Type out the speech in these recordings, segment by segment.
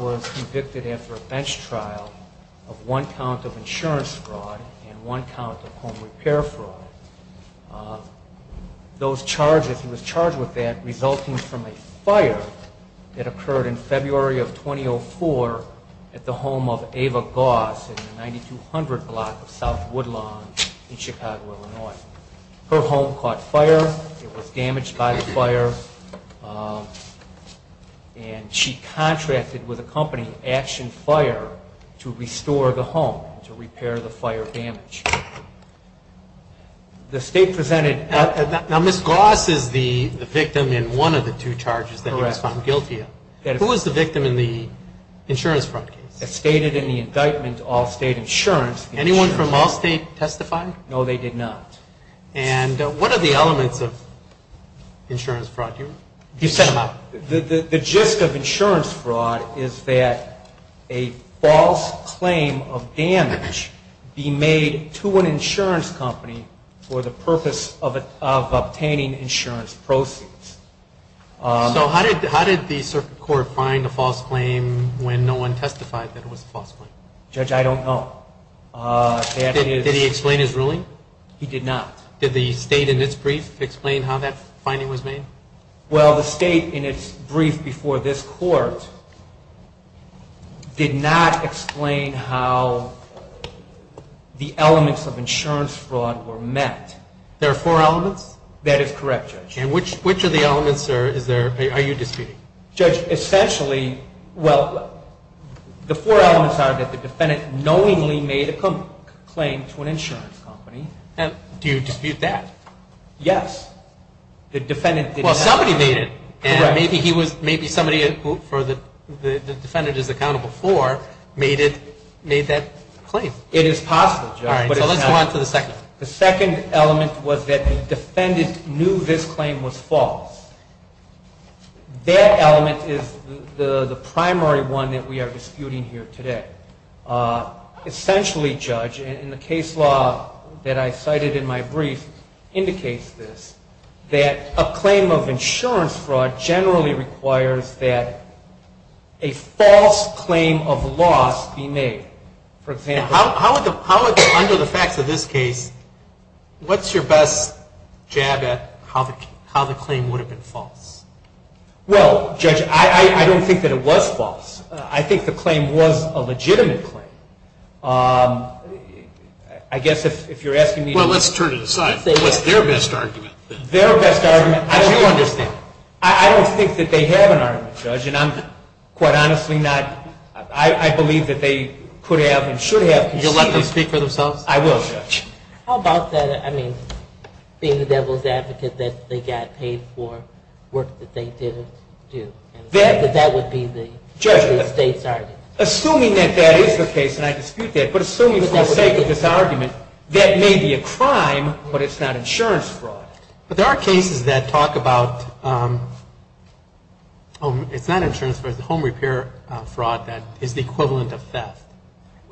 was convicted after a bench trial of one count of insurance fraud and one count of home repair fraud. Those charges, he was charged with that resulting from a fire that occurred in February of 2004 at the home of Ava Goss in the 9200 block of South Woodlawn in Chicago, Illinois. Her home caught fire. It was damaged by the fire. And she contracted with a company, Action Fire, to restore the home, to repair the fire damage. Now, Ms. Goss is the victim in one of the two charges that he was found guilty of. Who was the victim in the insurance fraud case? It's stated in the indictment to Allstate Insurance. Anyone from Allstate testify? No, they did not. And what are the elements of insurance fraud? The gist of insurance fraud is that a false claim of damage be made to an insurance company for the purpose of obtaining insurance proceeds. So how did the circuit court find a false claim when no one testified that it was a false claim? Judge, I don't know. Did he explain his ruling? He did not. Did the state in its brief explain how that finding was made? Well, the state in its brief before this court did not explain how the elements of insurance fraud were met. There are four elements? That is correct, Judge. And which of the elements are you disputing? Judge, essentially, well, the four elements are that the defendant knowingly made a claim to an insurance company. And do you dispute that? Yes. The defendant did not. Well, somebody made it. And maybe he was, maybe somebody for the defendant is accountable for made it, made that claim. It is possible, Judge. All right, so let's go on to the second. The second element was that the defendant knew this claim was false. That element is the primary one that we are disputing here today. Essentially, Judge, in the case law that I cited in my brief, indicates this, that a claim of insurance fraud generally requires that a false claim of loss be made. For example, How would, under the facts of this case, what's your best jab at how the claim would have been false? Well, Judge, I don't think that it was false. I think the claim was a legitimate claim. I guess if you're asking me to- Well, let's turn it aside. What's their best argument? Their best argument, I do understand. I don't think that they have an argument, Judge. And I'm, quite honestly, not, I believe that they could have and should have- You'll let them speak for themselves? I will, Judge. How about that, I mean, being the devil's advocate that they got paid for work that they didn't do? That would be the- Judge, assuming that that is the case, and I dispute that, but assuming for the sake of this argument, that may be a crime, but it's not insurance fraud. But there are cases that talk about, it's not insurance fraud, it's home repair fraud that is the equivalent of theft.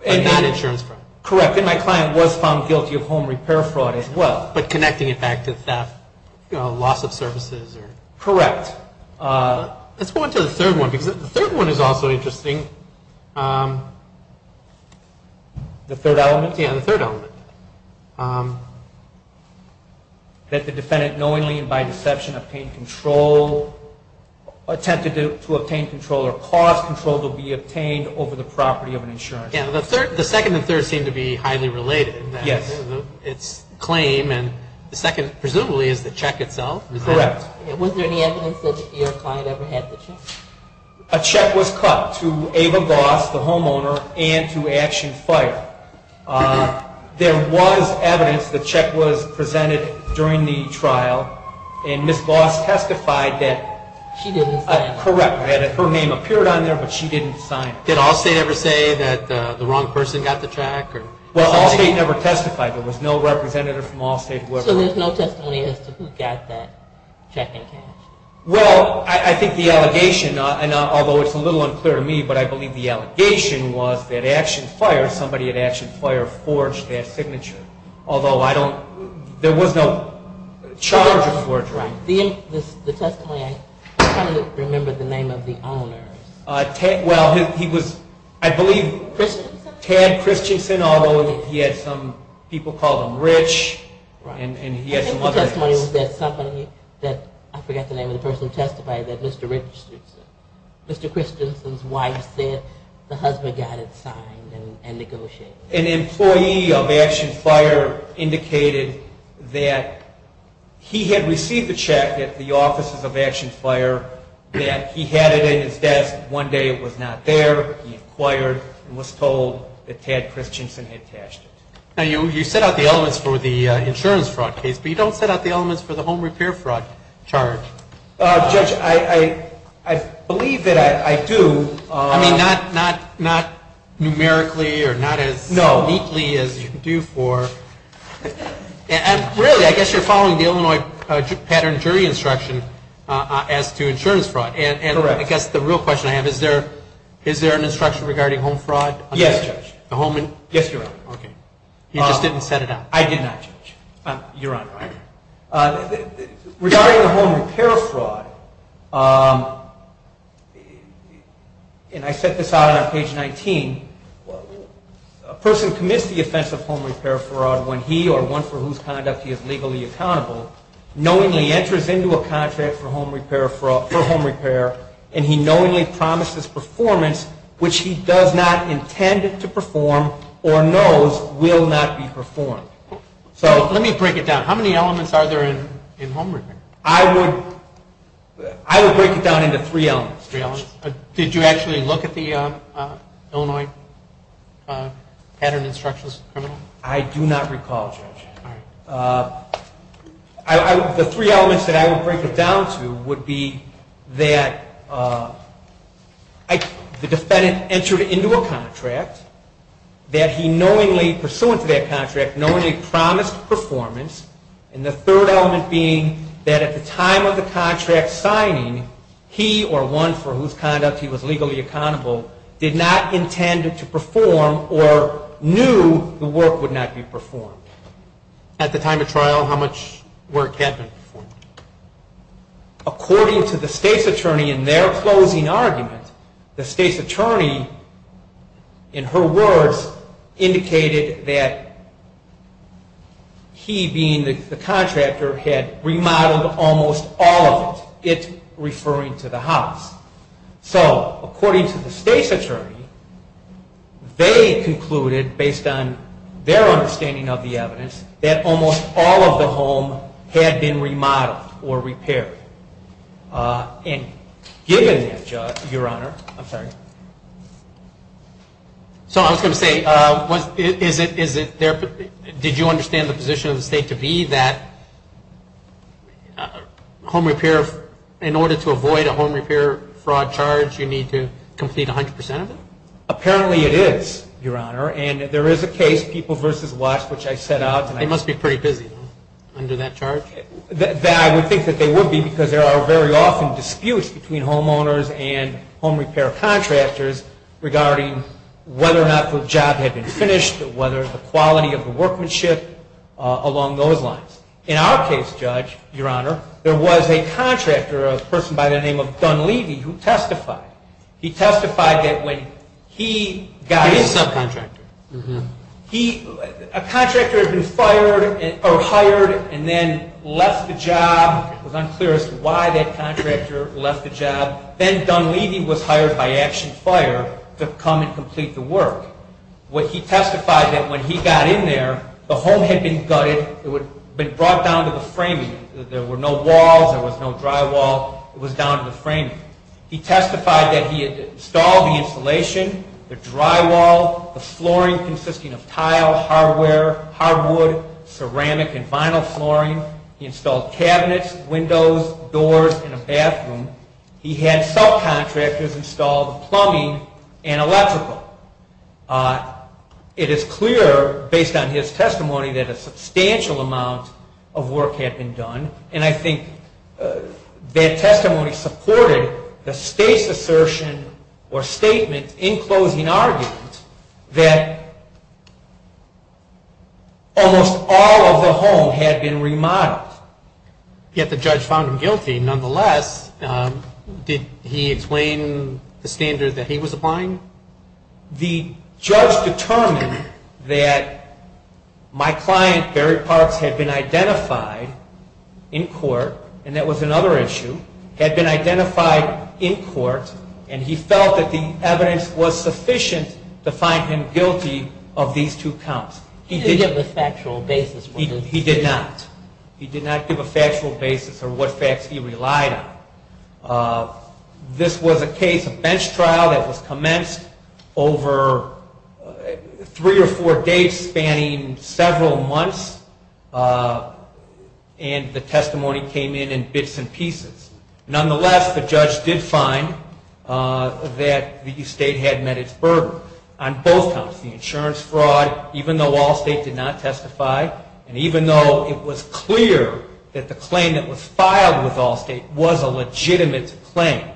But not insurance fraud. Correct, and my client was found guilty of home repair fraud as well. But connecting it back to theft, loss of services. Correct. Let's go on to the third one, because the third one is also interesting. The third element? Yeah, the third element. That the defendant knowingly and by deception obtained control, attempted to obtain control or caused control to be obtained over the property of an insurance company. Yeah, the second and third seem to be highly related in that it's a claim, and the second, presumably, is the check itself. Correct. Was there any evidence that your client ever had the check? A check was cut to Ava Boss, the homeowner, and to Action Fight. There was evidence the check was presented during the trial, and Ms. Boss testified that- She didn't sign it. Correct, her name appeared on there, but she didn't sign it. Did Allstate ever say that the wrong person got the check? Well, Allstate never testified. There was no representative from Allstate who ever- So there's no testimony as to who got that check and cash? Well, I think the allegation, although it's a little unclear to me, but I believe the allegation was that Action Fire, somebody at Action Fire forged that signature, although I don't- There was no charge of forgery. The testimony, I can't remember the name of the owner. Well, he was, I believe, Tad Christensen, although he had some people call him Rich, and he had some other- I think the testimony was that somebody, I forget the name of the person, testified that Mr. Christensen's wife said the husband got it signed and negotiated. An employee of Action Fire indicated that he had received the check at the offices of Action Fire, that he had it in his desk. One day it was not there. He inquired and was told that Tad Christensen had cashed it. Now, you set out the elements for the insurance fraud case, but you don't set out the elements for the home repair fraud charge. Judge, I believe that I do. I mean, not numerically or not as- No. Neatly as you do for- Really, I guess you're following the Illinois pattern jury instruction as to insurance fraud. Correct. And I guess the real question I have, is there an instruction regarding home fraud? Yes, Judge. The home- Yes, Your Honor. Okay. You just didn't set it out. I did not, Judge. Your Honor. Regarding the home repair fraud, and I set this out on page 19. A person commits the offense of home repair fraud when he or one for whose conduct he is legally accountable knowingly enters into a contract for home repair and he knowingly promises performance which he does not intend to perform or knows will not be performed. So let me break it down. How many elements are there in home repair? Three elements. Did you actually look at the Illinois pattern instructions? I do not recall, Judge. The three elements that I would break it down to would be that the defendant entered into a contract, that he knowingly, pursuant to that contract, knowingly promised performance. And the third element being that at the time of the contract signing, he or one for whose conduct he was legally accountable did not intend to perform or knew the work would not be performed. At the time of trial, how much work had been performed? According to the state's attorney in their closing argument, the state's attorney, in her words, indicated that he being the contractor had remodeled almost all of it, it referring to the house. So according to the state's attorney, they concluded, based on their understanding of the evidence, that almost all of the home had been remodeled or repaired. And given that, Judge, Your Honor, I'm sorry. So I was going to say, did you understand the position of the state to be that home repair, in order to avoid a home repair fraud charge, you need to complete 100% of it? Apparently it is, Your Honor. And there is a case, People v. Watts, which I set out. They must be pretty busy under that charge. I would think that they would be because there are very often disputes between homeowners and home repair contractors. Regarding whether or not the job had been finished, whether the quality of the workmanship, along those lines. In our case, Judge, Your Honor, there was a contractor, a person by the name of Dunleavy, who testified. He testified that when he got his contract, a contractor had been hired and then left the job. It was unclear as to why that contractor left the job. Then Dunleavy was hired by Action Fire to come and complete the work. He testified that when he got in there, the home had been gutted. It had been brought down to the framing. There were no walls. There was no drywall. It was down to the framing. He testified that he had installed the installation, the drywall, the flooring consisting of tile, hardware, hardwood, ceramic, and vinyl flooring. He installed cabinets, windows, doors, and a bathroom. He had subcontractors install the plumbing and electrical. It is clear, based on his testimony, that a substantial amount of work had been done. And I think that testimony supported the state's assertion or statement in closing argument that almost all of the home had been remodeled. Yet the judge found him guilty. Nonetheless, did he explain the standard that he was applying? The judge determined that my client, Barry Parks, had been identified in court, and that was another issue, had been identified in court, and he felt that the evidence was sufficient to find him guilty of these two counts. He didn't have a factual basis for this. He did not. He did not give a factual basis for what facts he relied on. This was a case, a bench trial, that was commenced over three or four days spanning several months, and the testimony came in in bits and pieces. Nonetheless, the judge did find that the state had met its burden on both counts, the insurance fraud, even though Allstate did not testify, and even though it was clear that the claim that was filed with Allstate was a legitimate claim.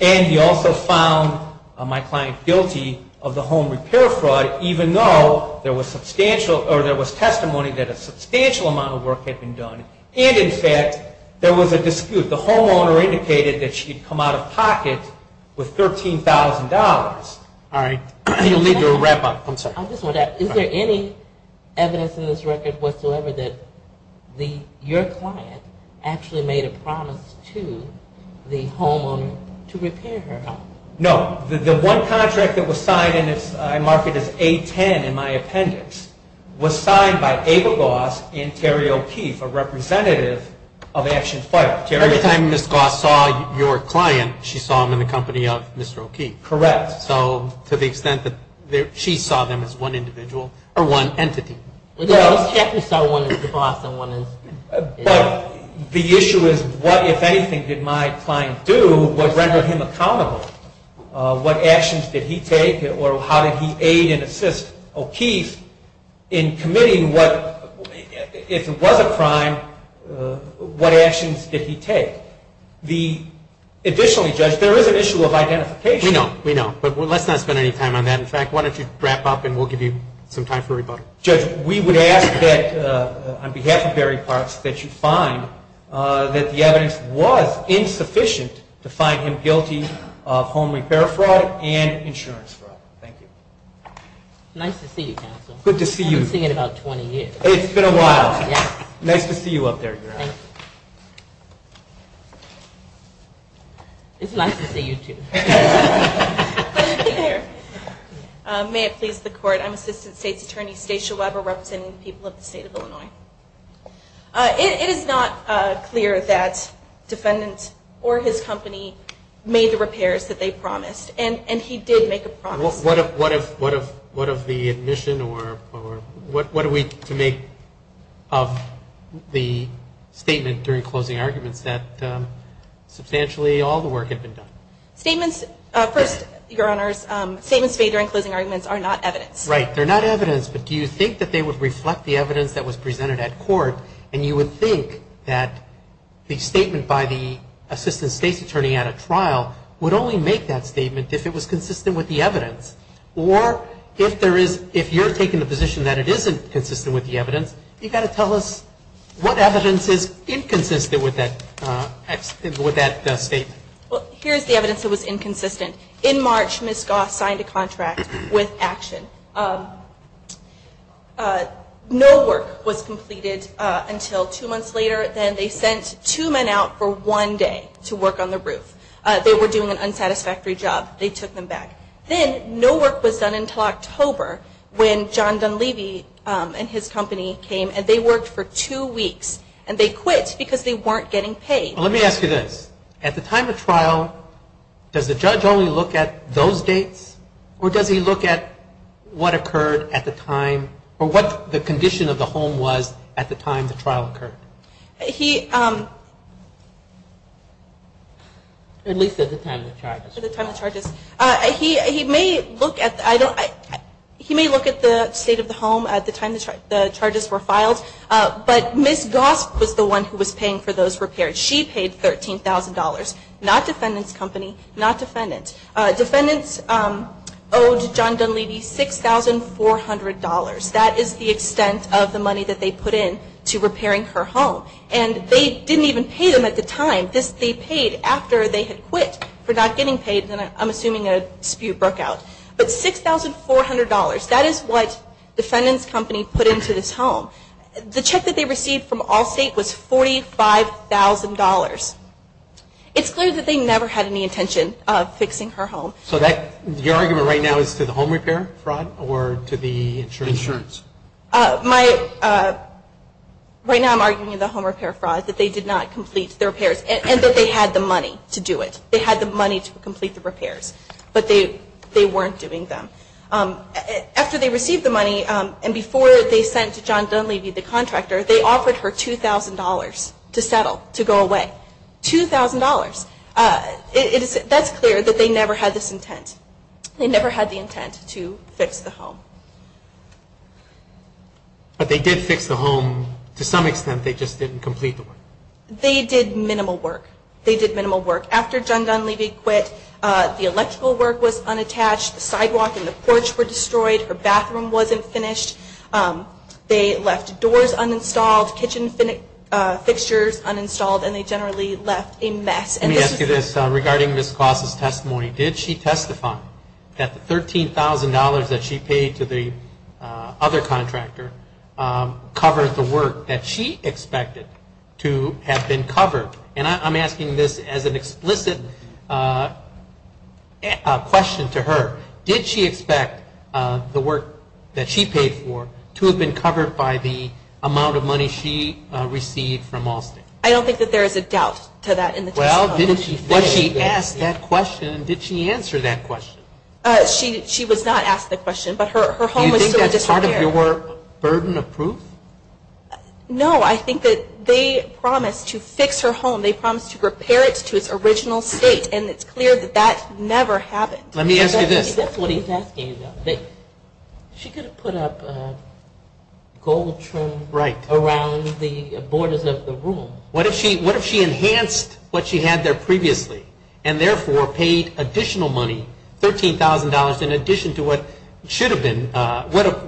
And he also found my client guilty of the home repair fraud, even though there was testimony that a substantial amount of work had been done, and in fact, there was a dispute. The homeowner indicated that she had come out of pocket with $13,000. All right. You'll need to wrap up. I'm sorry. Is there any evidence in this record whatsoever that your client actually made a promise to the homeowner to repair her home? No. The one contract that was signed, and I mark it as A-10 in my appendix, was signed by Ava Goss and Terry O'Keefe, a representative of Action Fire. Every time Ms. Goss saw your client, she saw them in the company of Mr. O'Keefe. Correct. So to the extent that she saw them as one individual or one entity. Well, Ms. Chapman saw one as the boss and one as the employee. But the issue is what, if anything, did my client do that rendered him accountable? What actions did he take, or how did he aid and assist O'Keefe in committing what, if it was a crime, what actions did he take? Additionally, Judge, there is an issue of identification. We know. We know. But let's not spend any time on that. In fact, why don't you wrap up and we'll give you some time for rebuttal. Judge, we would ask that on behalf of Barry Parks that you find that the evidence was insufficient to find him guilty of home repair fraud and insurance fraud. Thank you. Nice to see you, counsel. Good to see you. I haven't seen you in about 20 years. It's been a while. Nice to see you up there. It's nice to see you, too. May it please the Court. I'm Assistant State's Attorney Stacia Weber representing the people of the state of Illinois. It is not clear that defendants or his company made the repairs that they promised, and he did make a promise. What of the admission or what are we to make of the statement during closing arguments that substantially all the work had been done? Statements, first, Your Honors, statements made during closing arguments are not evidence. Right. They're not evidence. But do you think that they would reflect the evidence that was presented at court, and you would think that the statement by the Assistant State's Attorney at a trial would only make that statement if it was consistent with the evidence? Or if you're taking the position that it isn't consistent with the evidence, you've got to tell us what evidence is inconsistent with that statement. Well, here's the evidence that was inconsistent. In March, Ms. Goss signed a contract with Action. No work was completed until two months later. Then they sent two men out for one day to work on the roof. They were doing an unsatisfactory job. They took them back. Then no work was done until October when John Dunleavy and his company came, and they worked for two weeks, and they quit because they weren't getting paid. Let me ask you this. At the time of trial, does the judge only look at those dates, or does he look at what occurred at the time or what the condition of the home was at the time the trial occurred? At least at the time of the charges. At the time of the charges. He may look at the state of the home at the time the charges were filed, but Ms. Goss was the one who was paying for those repairs. She paid $13,000, not Defendant's company, not Defendant. Defendant owed John Dunleavy $6,400. That is the extent of the money that they put in to repairing her home, and they didn't even pay them at the time. They paid after they had quit for not getting paid, and I'm assuming a dispute broke out. But $6,400, that is what Defendant's company put into this home. The check that they received from Allstate was $45,000. It's clear that they never had any intention of fixing her home. So your argument right now is to the home repair fraud or to the insurance fraud? Right now I'm arguing the home repair fraud, that they did not complete the repairs, and that they had the money to do it. They had the money to complete the repairs, but they weren't doing them. After they received the money and before they sent to John Dunleavy, the contractor, they offered her $2,000 to settle, to go away. $2,000. That's clear that they never had this intent. They never had the intent to fix the home. But they did fix the home. To some extent, they just didn't complete the work. They did minimal work. They did minimal work. After John Dunleavy quit, the electrical work was unattached. The sidewalk and the porch were destroyed. Her bathroom wasn't finished. They left doors uninstalled, kitchen fixtures uninstalled, and they generally left a mess. Let me ask you this. Regarding Ms. Claus' testimony, did she testify that the $13,000 that she paid to the other contractor covered the work that she expected to have been covered? And I'm asking this as an explicit question to her. Did she expect the work that she paid for to have been covered by the amount of money she received from Allstate? I don't think that there is a doubt to that in the testimony. Well, didn't she say that? When she asked that question, did she answer that question? She was not asked the question, but her home was still in disrepair. Do you think that's part of your burden of proof? No, I think that they promised to fix her home. They promised to repair it to its original state, and it's clear that that never happened. Let me ask you this. That's what he's asking about. She could have put up a gold trim around the borders of the room. What if she enhanced what she had there previously, and therefore paid additional money, $13,000, in addition to what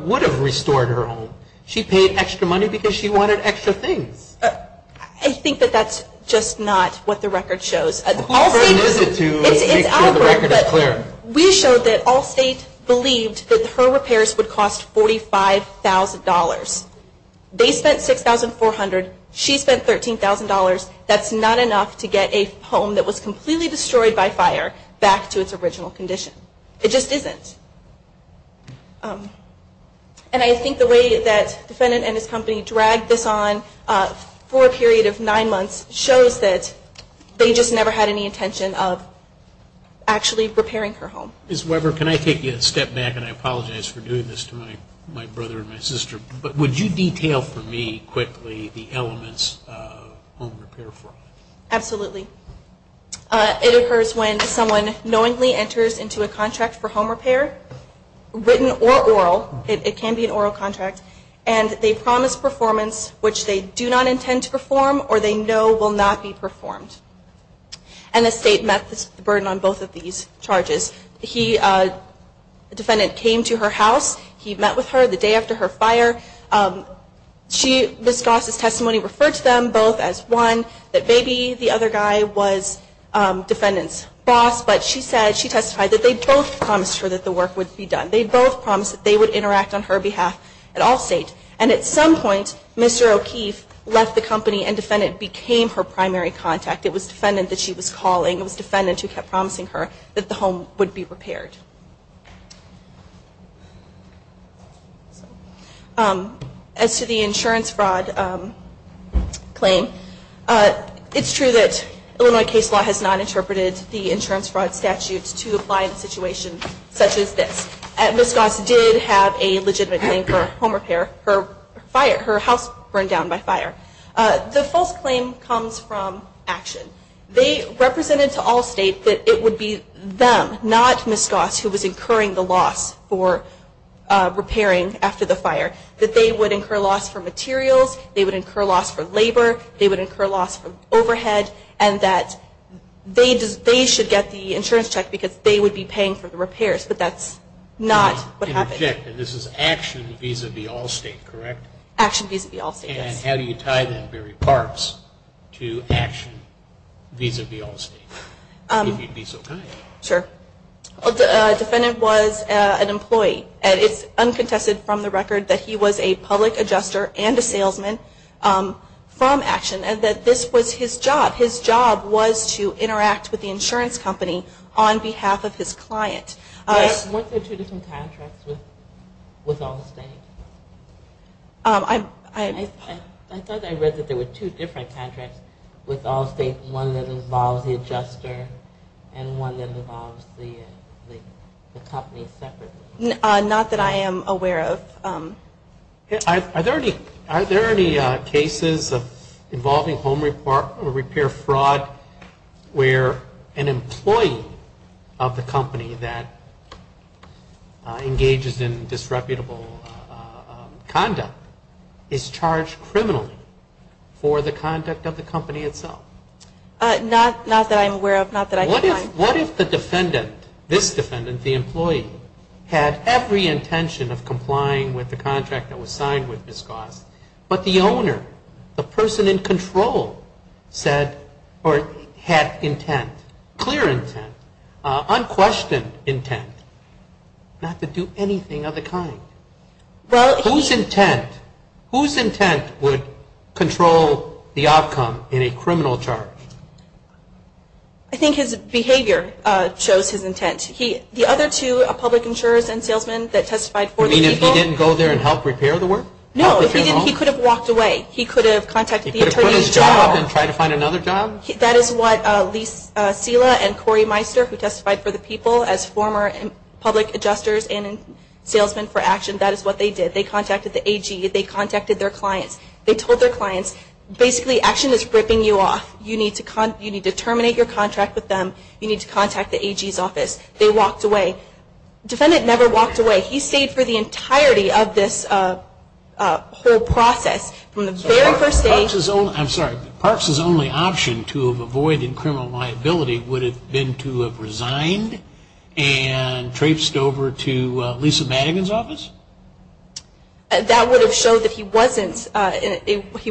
would have restored her home? She paid extra money because she wanted extra things. I think that that's just not what the record shows. How important is it to make sure the record is clear? We showed that Allstate believed that her repairs would cost $45,000. They spent $6,400. She spent $13,000. That's not enough to get a home that was completely destroyed by fire back to its original condition. It just isn't. And I think the way that the defendant and his company dragged this on for a period of nine months shows that they just never had any intention of actually repairing her home. Ms. Weber, can I take a step back, and I apologize for doing this to my brother and my sister, but would you detail for me quickly the elements of home repair fraud? Absolutely. It occurs when someone knowingly enters into a contract for home repair, written or oral. It can be an oral contract. And they promise performance which they do not intend to perform or they know will not be performed. And the state met the burden on both of these charges. The defendant came to her house. He met with her the day after her fire. Ms. Goss' testimony referred to them both as one, that maybe the other guy was defendant's boss, but she testified that they both promised her that the work would be done. They both promised that they would interact on her behalf at all states. And at some point, Mr. O'Keefe left the company and defendant became her primary contact. It was defendant that she was calling. It was defendant who kept promising her that the home would be repaired. As to the insurance fraud claim, it's true that Illinois case law has not interpreted the insurance fraud statute to apply in a situation such as this. Ms. Goss did have a legitimate claim for home repair. Her house burned down by fire. The false claim comes from action. They represented to all states that it would be them, not Ms. Goss, who was incurring the loss for repairing after the fire, that they would incur loss for materials, they would incur loss for labor, they would incur loss for overhead, and that they should get the insurance check because they would be paying for the repairs. But that's not what happened. In effect, this is action vis-a-vis all states, correct? Action vis-a-vis all states, yes. And how do you tie the very parts to action vis-a-vis all states, if you'd be so kind? Sure. The defendant was an employee. And it's uncontested from the record that he was a public adjuster and a salesman from action and that this was his job. His job was to interact with the insurance company on behalf of his client. Weren't there two different contracts with all states? I thought I read that there were two different contracts with all states, one that involves the adjuster and one that involves the company separately. Not that I am aware of. Are there any cases involving home repair fraud where an employee of the company that engages in disreputable conduct is charged criminally for the conduct of the company itself? Not that I am aware of. Not that I can find. What if the defendant, this defendant, the employee, had every intention of complying with the contract that was signed with this cause, but the owner, the person in control said or had intent, clear intent, unquestioned intent, not to do anything of the kind? Whose intent would control the outcome in a criminal charge? I think his behavior shows his intent. The other two, a public insurer and salesman that testified for the people. You mean if he didn't go there and help repair the work? No, he could have walked away. He could have contacted the attorney's job. He could have put his job up and tried to find another job? That is what Lise Sela and Corey Meister who testified for the people as former public adjusters and salesmen for Action, that is what they did. They contacted the AG. They contacted their clients. They told their clients, basically Action is ripping you off. You need to terminate your contract with them. You need to contact the AG's office. They walked away. The defendant never walked away. He stayed for the entirety of this whole process from the very first day. Parks' only option to have avoided criminal liability would have been to have resigned and traipsed over to Lisa Madigan's office? That would have showed that he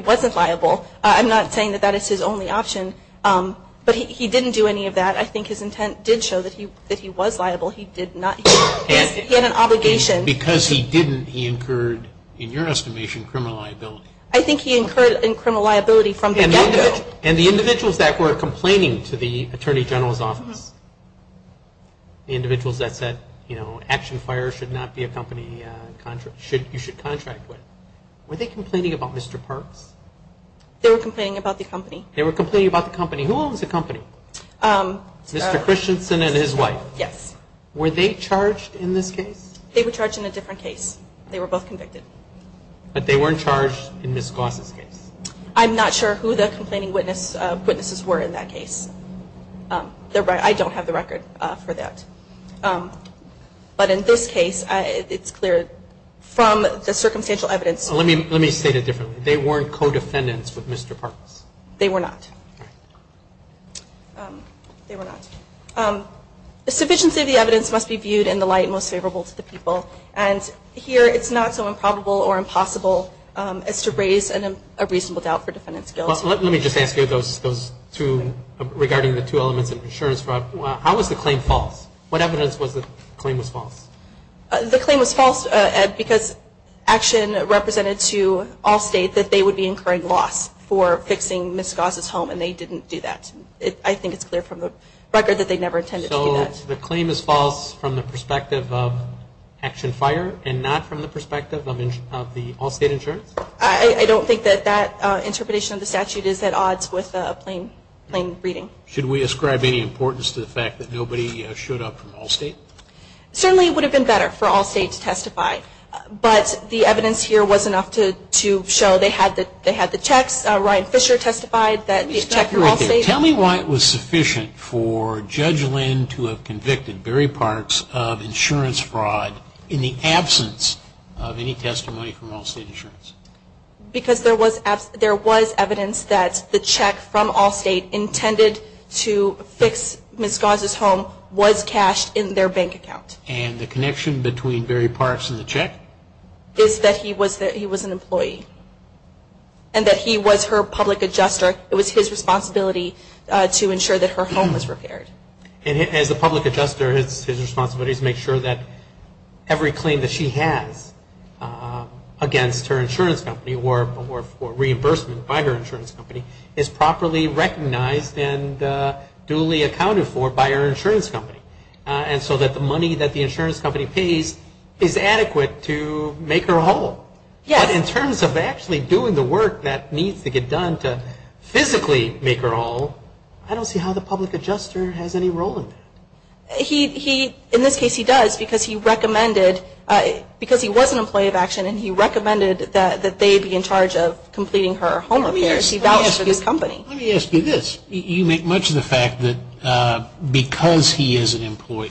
wasn't liable. I'm not saying that that is his only option, but he didn't do any of that. I think his intent did show that he was liable. He had an obligation. Because he didn't, he incurred, in your estimation, criminal liability. I think he incurred criminal liability from the get-go. And the individuals that were complaining to the Attorney General's office, the individuals that said Action Fire should not be a company you should contract with, were they complaining about Mr. Parks? They were complaining about the company. They were complaining about the company. Who owns the company? Mr. Christensen and his wife. Yes. Were they charged in this case? They were charged in a different case. They were both convicted. But they weren't charged in Ms. Goss' case. I'm not sure who the complaining witnesses were in that case. I don't have the record for that. But in this case, it's clear from the circumstantial evidence. Let me state it differently. They weren't co-defendants with Mr. Parks. They were not. They were not. The sufficiency of the evidence must be viewed in the light most favorable to the people. And here it's not so improbable or impossible as to raise a reasonable doubt for defendant's guilt. Let me just ask you those two, regarding the two elements of insurance fraud. How was the claim false? What evidence was the claim was false? The claim was false, Ed, because Action represented to all states that they would be incurring loss for fixing Ms. Goss' home, and they didn't do that. So the claim is false from the perspective of Action Fire, and not from the perspective of the all-state insurance? I don't think that that interpretation of the statute is at odds with plain reading. Should we ascribe any importance to the fact that nobody showed up from all states? Certainly it would have been better for all states to testify. But the evidence here was enough to show they had the checks. Ryan Fisher testified that these checks were all-state. Why would you have convicted Barry Parks of insurance fraud in the absence of any testimony from all-state insurance? Because there was evidence that the check from all-state intended to fix Ms. Goss' home was cashed in their bank account. And the connection between Barry Parks and the check? Is that he was an employee, and that he was her public adjuster. It was his responsibility to ensure that her home was repaired. And as the public adjuster, it's his responsibility to make sure that every claim that she has against her insurance company or for reimbursement by her insurance company is properly recognized and duly accounted for by her insurance company. And so that the money that the insurance company pays is adequate to make her whole. But in terms of actually doing the work that needs to get done to physically make her whole, I don't see how the public adjuster has any role in that. In this case, he does, because he was an employee of action, and he recommended that they be in charge of completing her home repairs. He vouched for this company. Let me ask you this. You make much of the fact that because he was an employee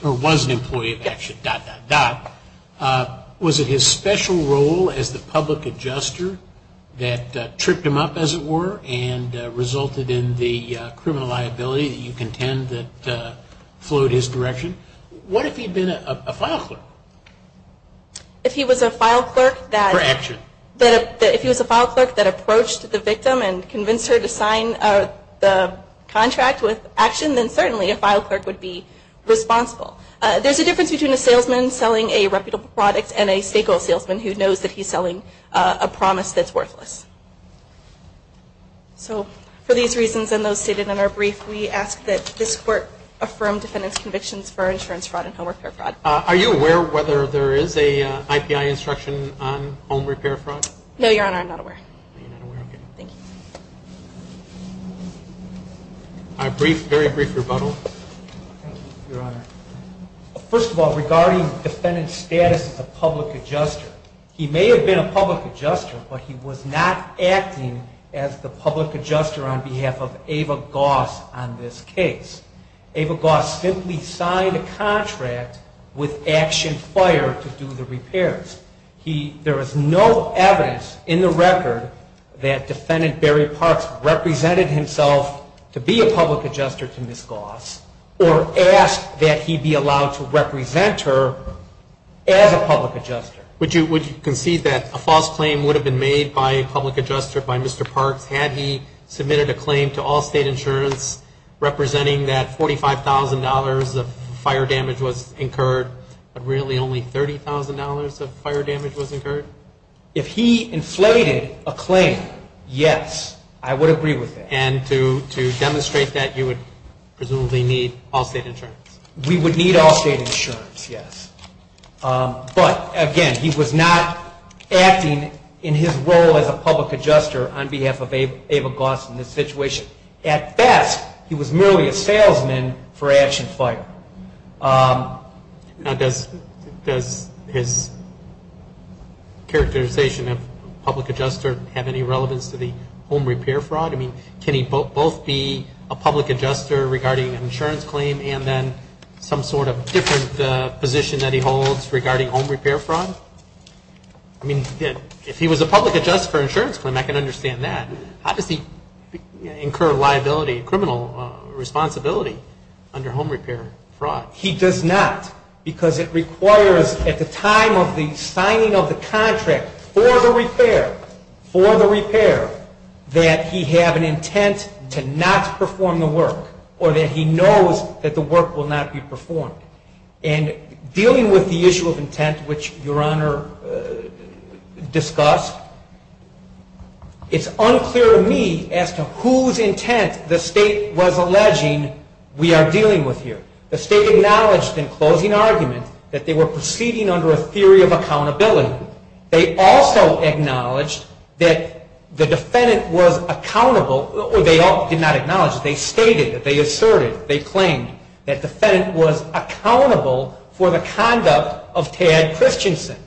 of action, dot, dot, dot, was it his special role as the public adjuster that tripped him up, as it were, and resulted in the criminal liability that you contend that flowed his direction? What if he had been a file clerk? If he was a file clerk that approached the victim and convinced her to sign the contract with action, then certainly a file clerk would be responsible. There's a difference between a salesman selling a reputable product and a stakeholder salesman who knows that he's selling a promise that's worthless. So for these reasons and those stated in our brief, we ask that this court affirm defendant's convictions for insurance fraud and home repair fraud. Are you aware whether there is a IPI instruction on home repair fraud? No, Your Honor. I'm not aware. Thank you. A brief, very brief rebuttal. Thank you, Your Honor. First of all, regarding defendant's status as a public adjuster, he may have been a public adjuster, but he was not acting as the public adjuster on behalf of Ava Goss on this case. Ava Goss simply signed a contract with Action Fire to do the repairs. There is no evidence in the record that defendant Barry Parks represented himself to be a public adjuster to Ms. Goss or asked that he be allowed to represent her as a public adjuster. Would you concede that a false claim would have been made by a public adjuster by Mr. Parks had he submitted a claim to Allstate Insurance representing that $45,000 of fire damage was incurred, but really only $30,000 of fire damage was incurred? If he inflated a claim, yes, I would agree with that. And to demonstrate that, you would presumably need Allstate Insurance? We would need Allstate Insurance, yes. But, again, he was not acting in his role as a public adjuster on behalf of Ava Goss in this situation. At best, he was merely a salesman for Action Fire. Now, does his characterization of public adjuster have any relevance to the home repair fraud? I mean, can he both be a public adjuster regarding an insurance claim and then some sort of different position that he holds regarding home repair fraud? I mean, if he was a public adjuster for an insurance claim, I can understand that. How does he incur liability, criminal responsibility under home repair fraud? He does not because it requires at the time of the signing of the contract for the repair, for the repair, that he have an intent to not perform the work or that he knows that the work will not be performed. And dealing with the issue of intent, which Your Honor discussed, it's unclear to me as to whose intent the State was alleging we are dealing with here. The State acknowledged in closing argument that they were proceeding under a theory of accountability. They also acknowledged that the defendant was accountable, or they did not acknowledge, they stated, they asserted, they claimed that the defendant was accountable for the conduct of Tad Christensen.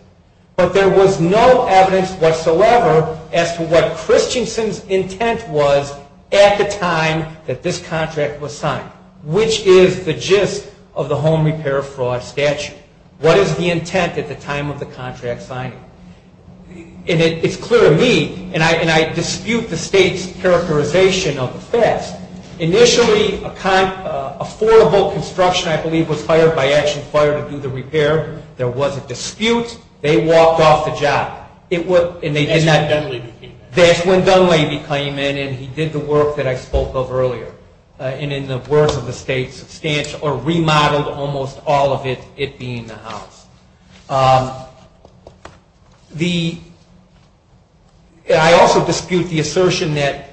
But there was no evidence whatsoever as to what Christensen's intent was at the time that this contract was signed. Which is the gist of the home repair fraud statute? What is the intent at the time of the contract signing? And it's clear to me, and I dispute the State's characterization of the facts. Initially, affordable construction, I believe, was hired by Action Fire to do the repair. There was a dispute. They walked off the job. That's when Dunleavy came in. That's when Dunleavy came in and he did the work that I spoke of earlier. And in the words of the State, remodeled almost all of it, it being the house. I also dispute the assertion that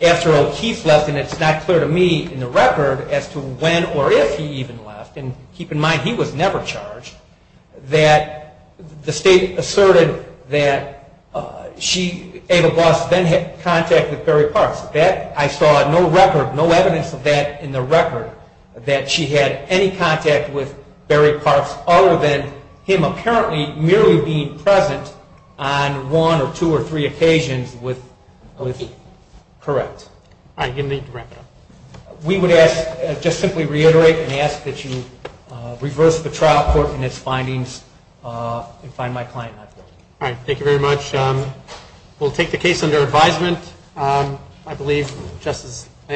after O'Keefe left, and it's not clear to me in the record as to when or if he even left, and keep in mind he was never charged, that the State asserted that she, Ava Boss, then had contact with Perry Parks. I saw no record, no evidence of that in the record, that she had any contact with Perry Parks, other than him apparently merely being present on one or two or three occasions with O'Keefe. Correct. All right, give me the record. We would ask, just simply reiterate, and ask that you reverse the trial court and its findings and find my client not guilty. All right, thank you very much. We'll take the case under advisement. I believe, just as I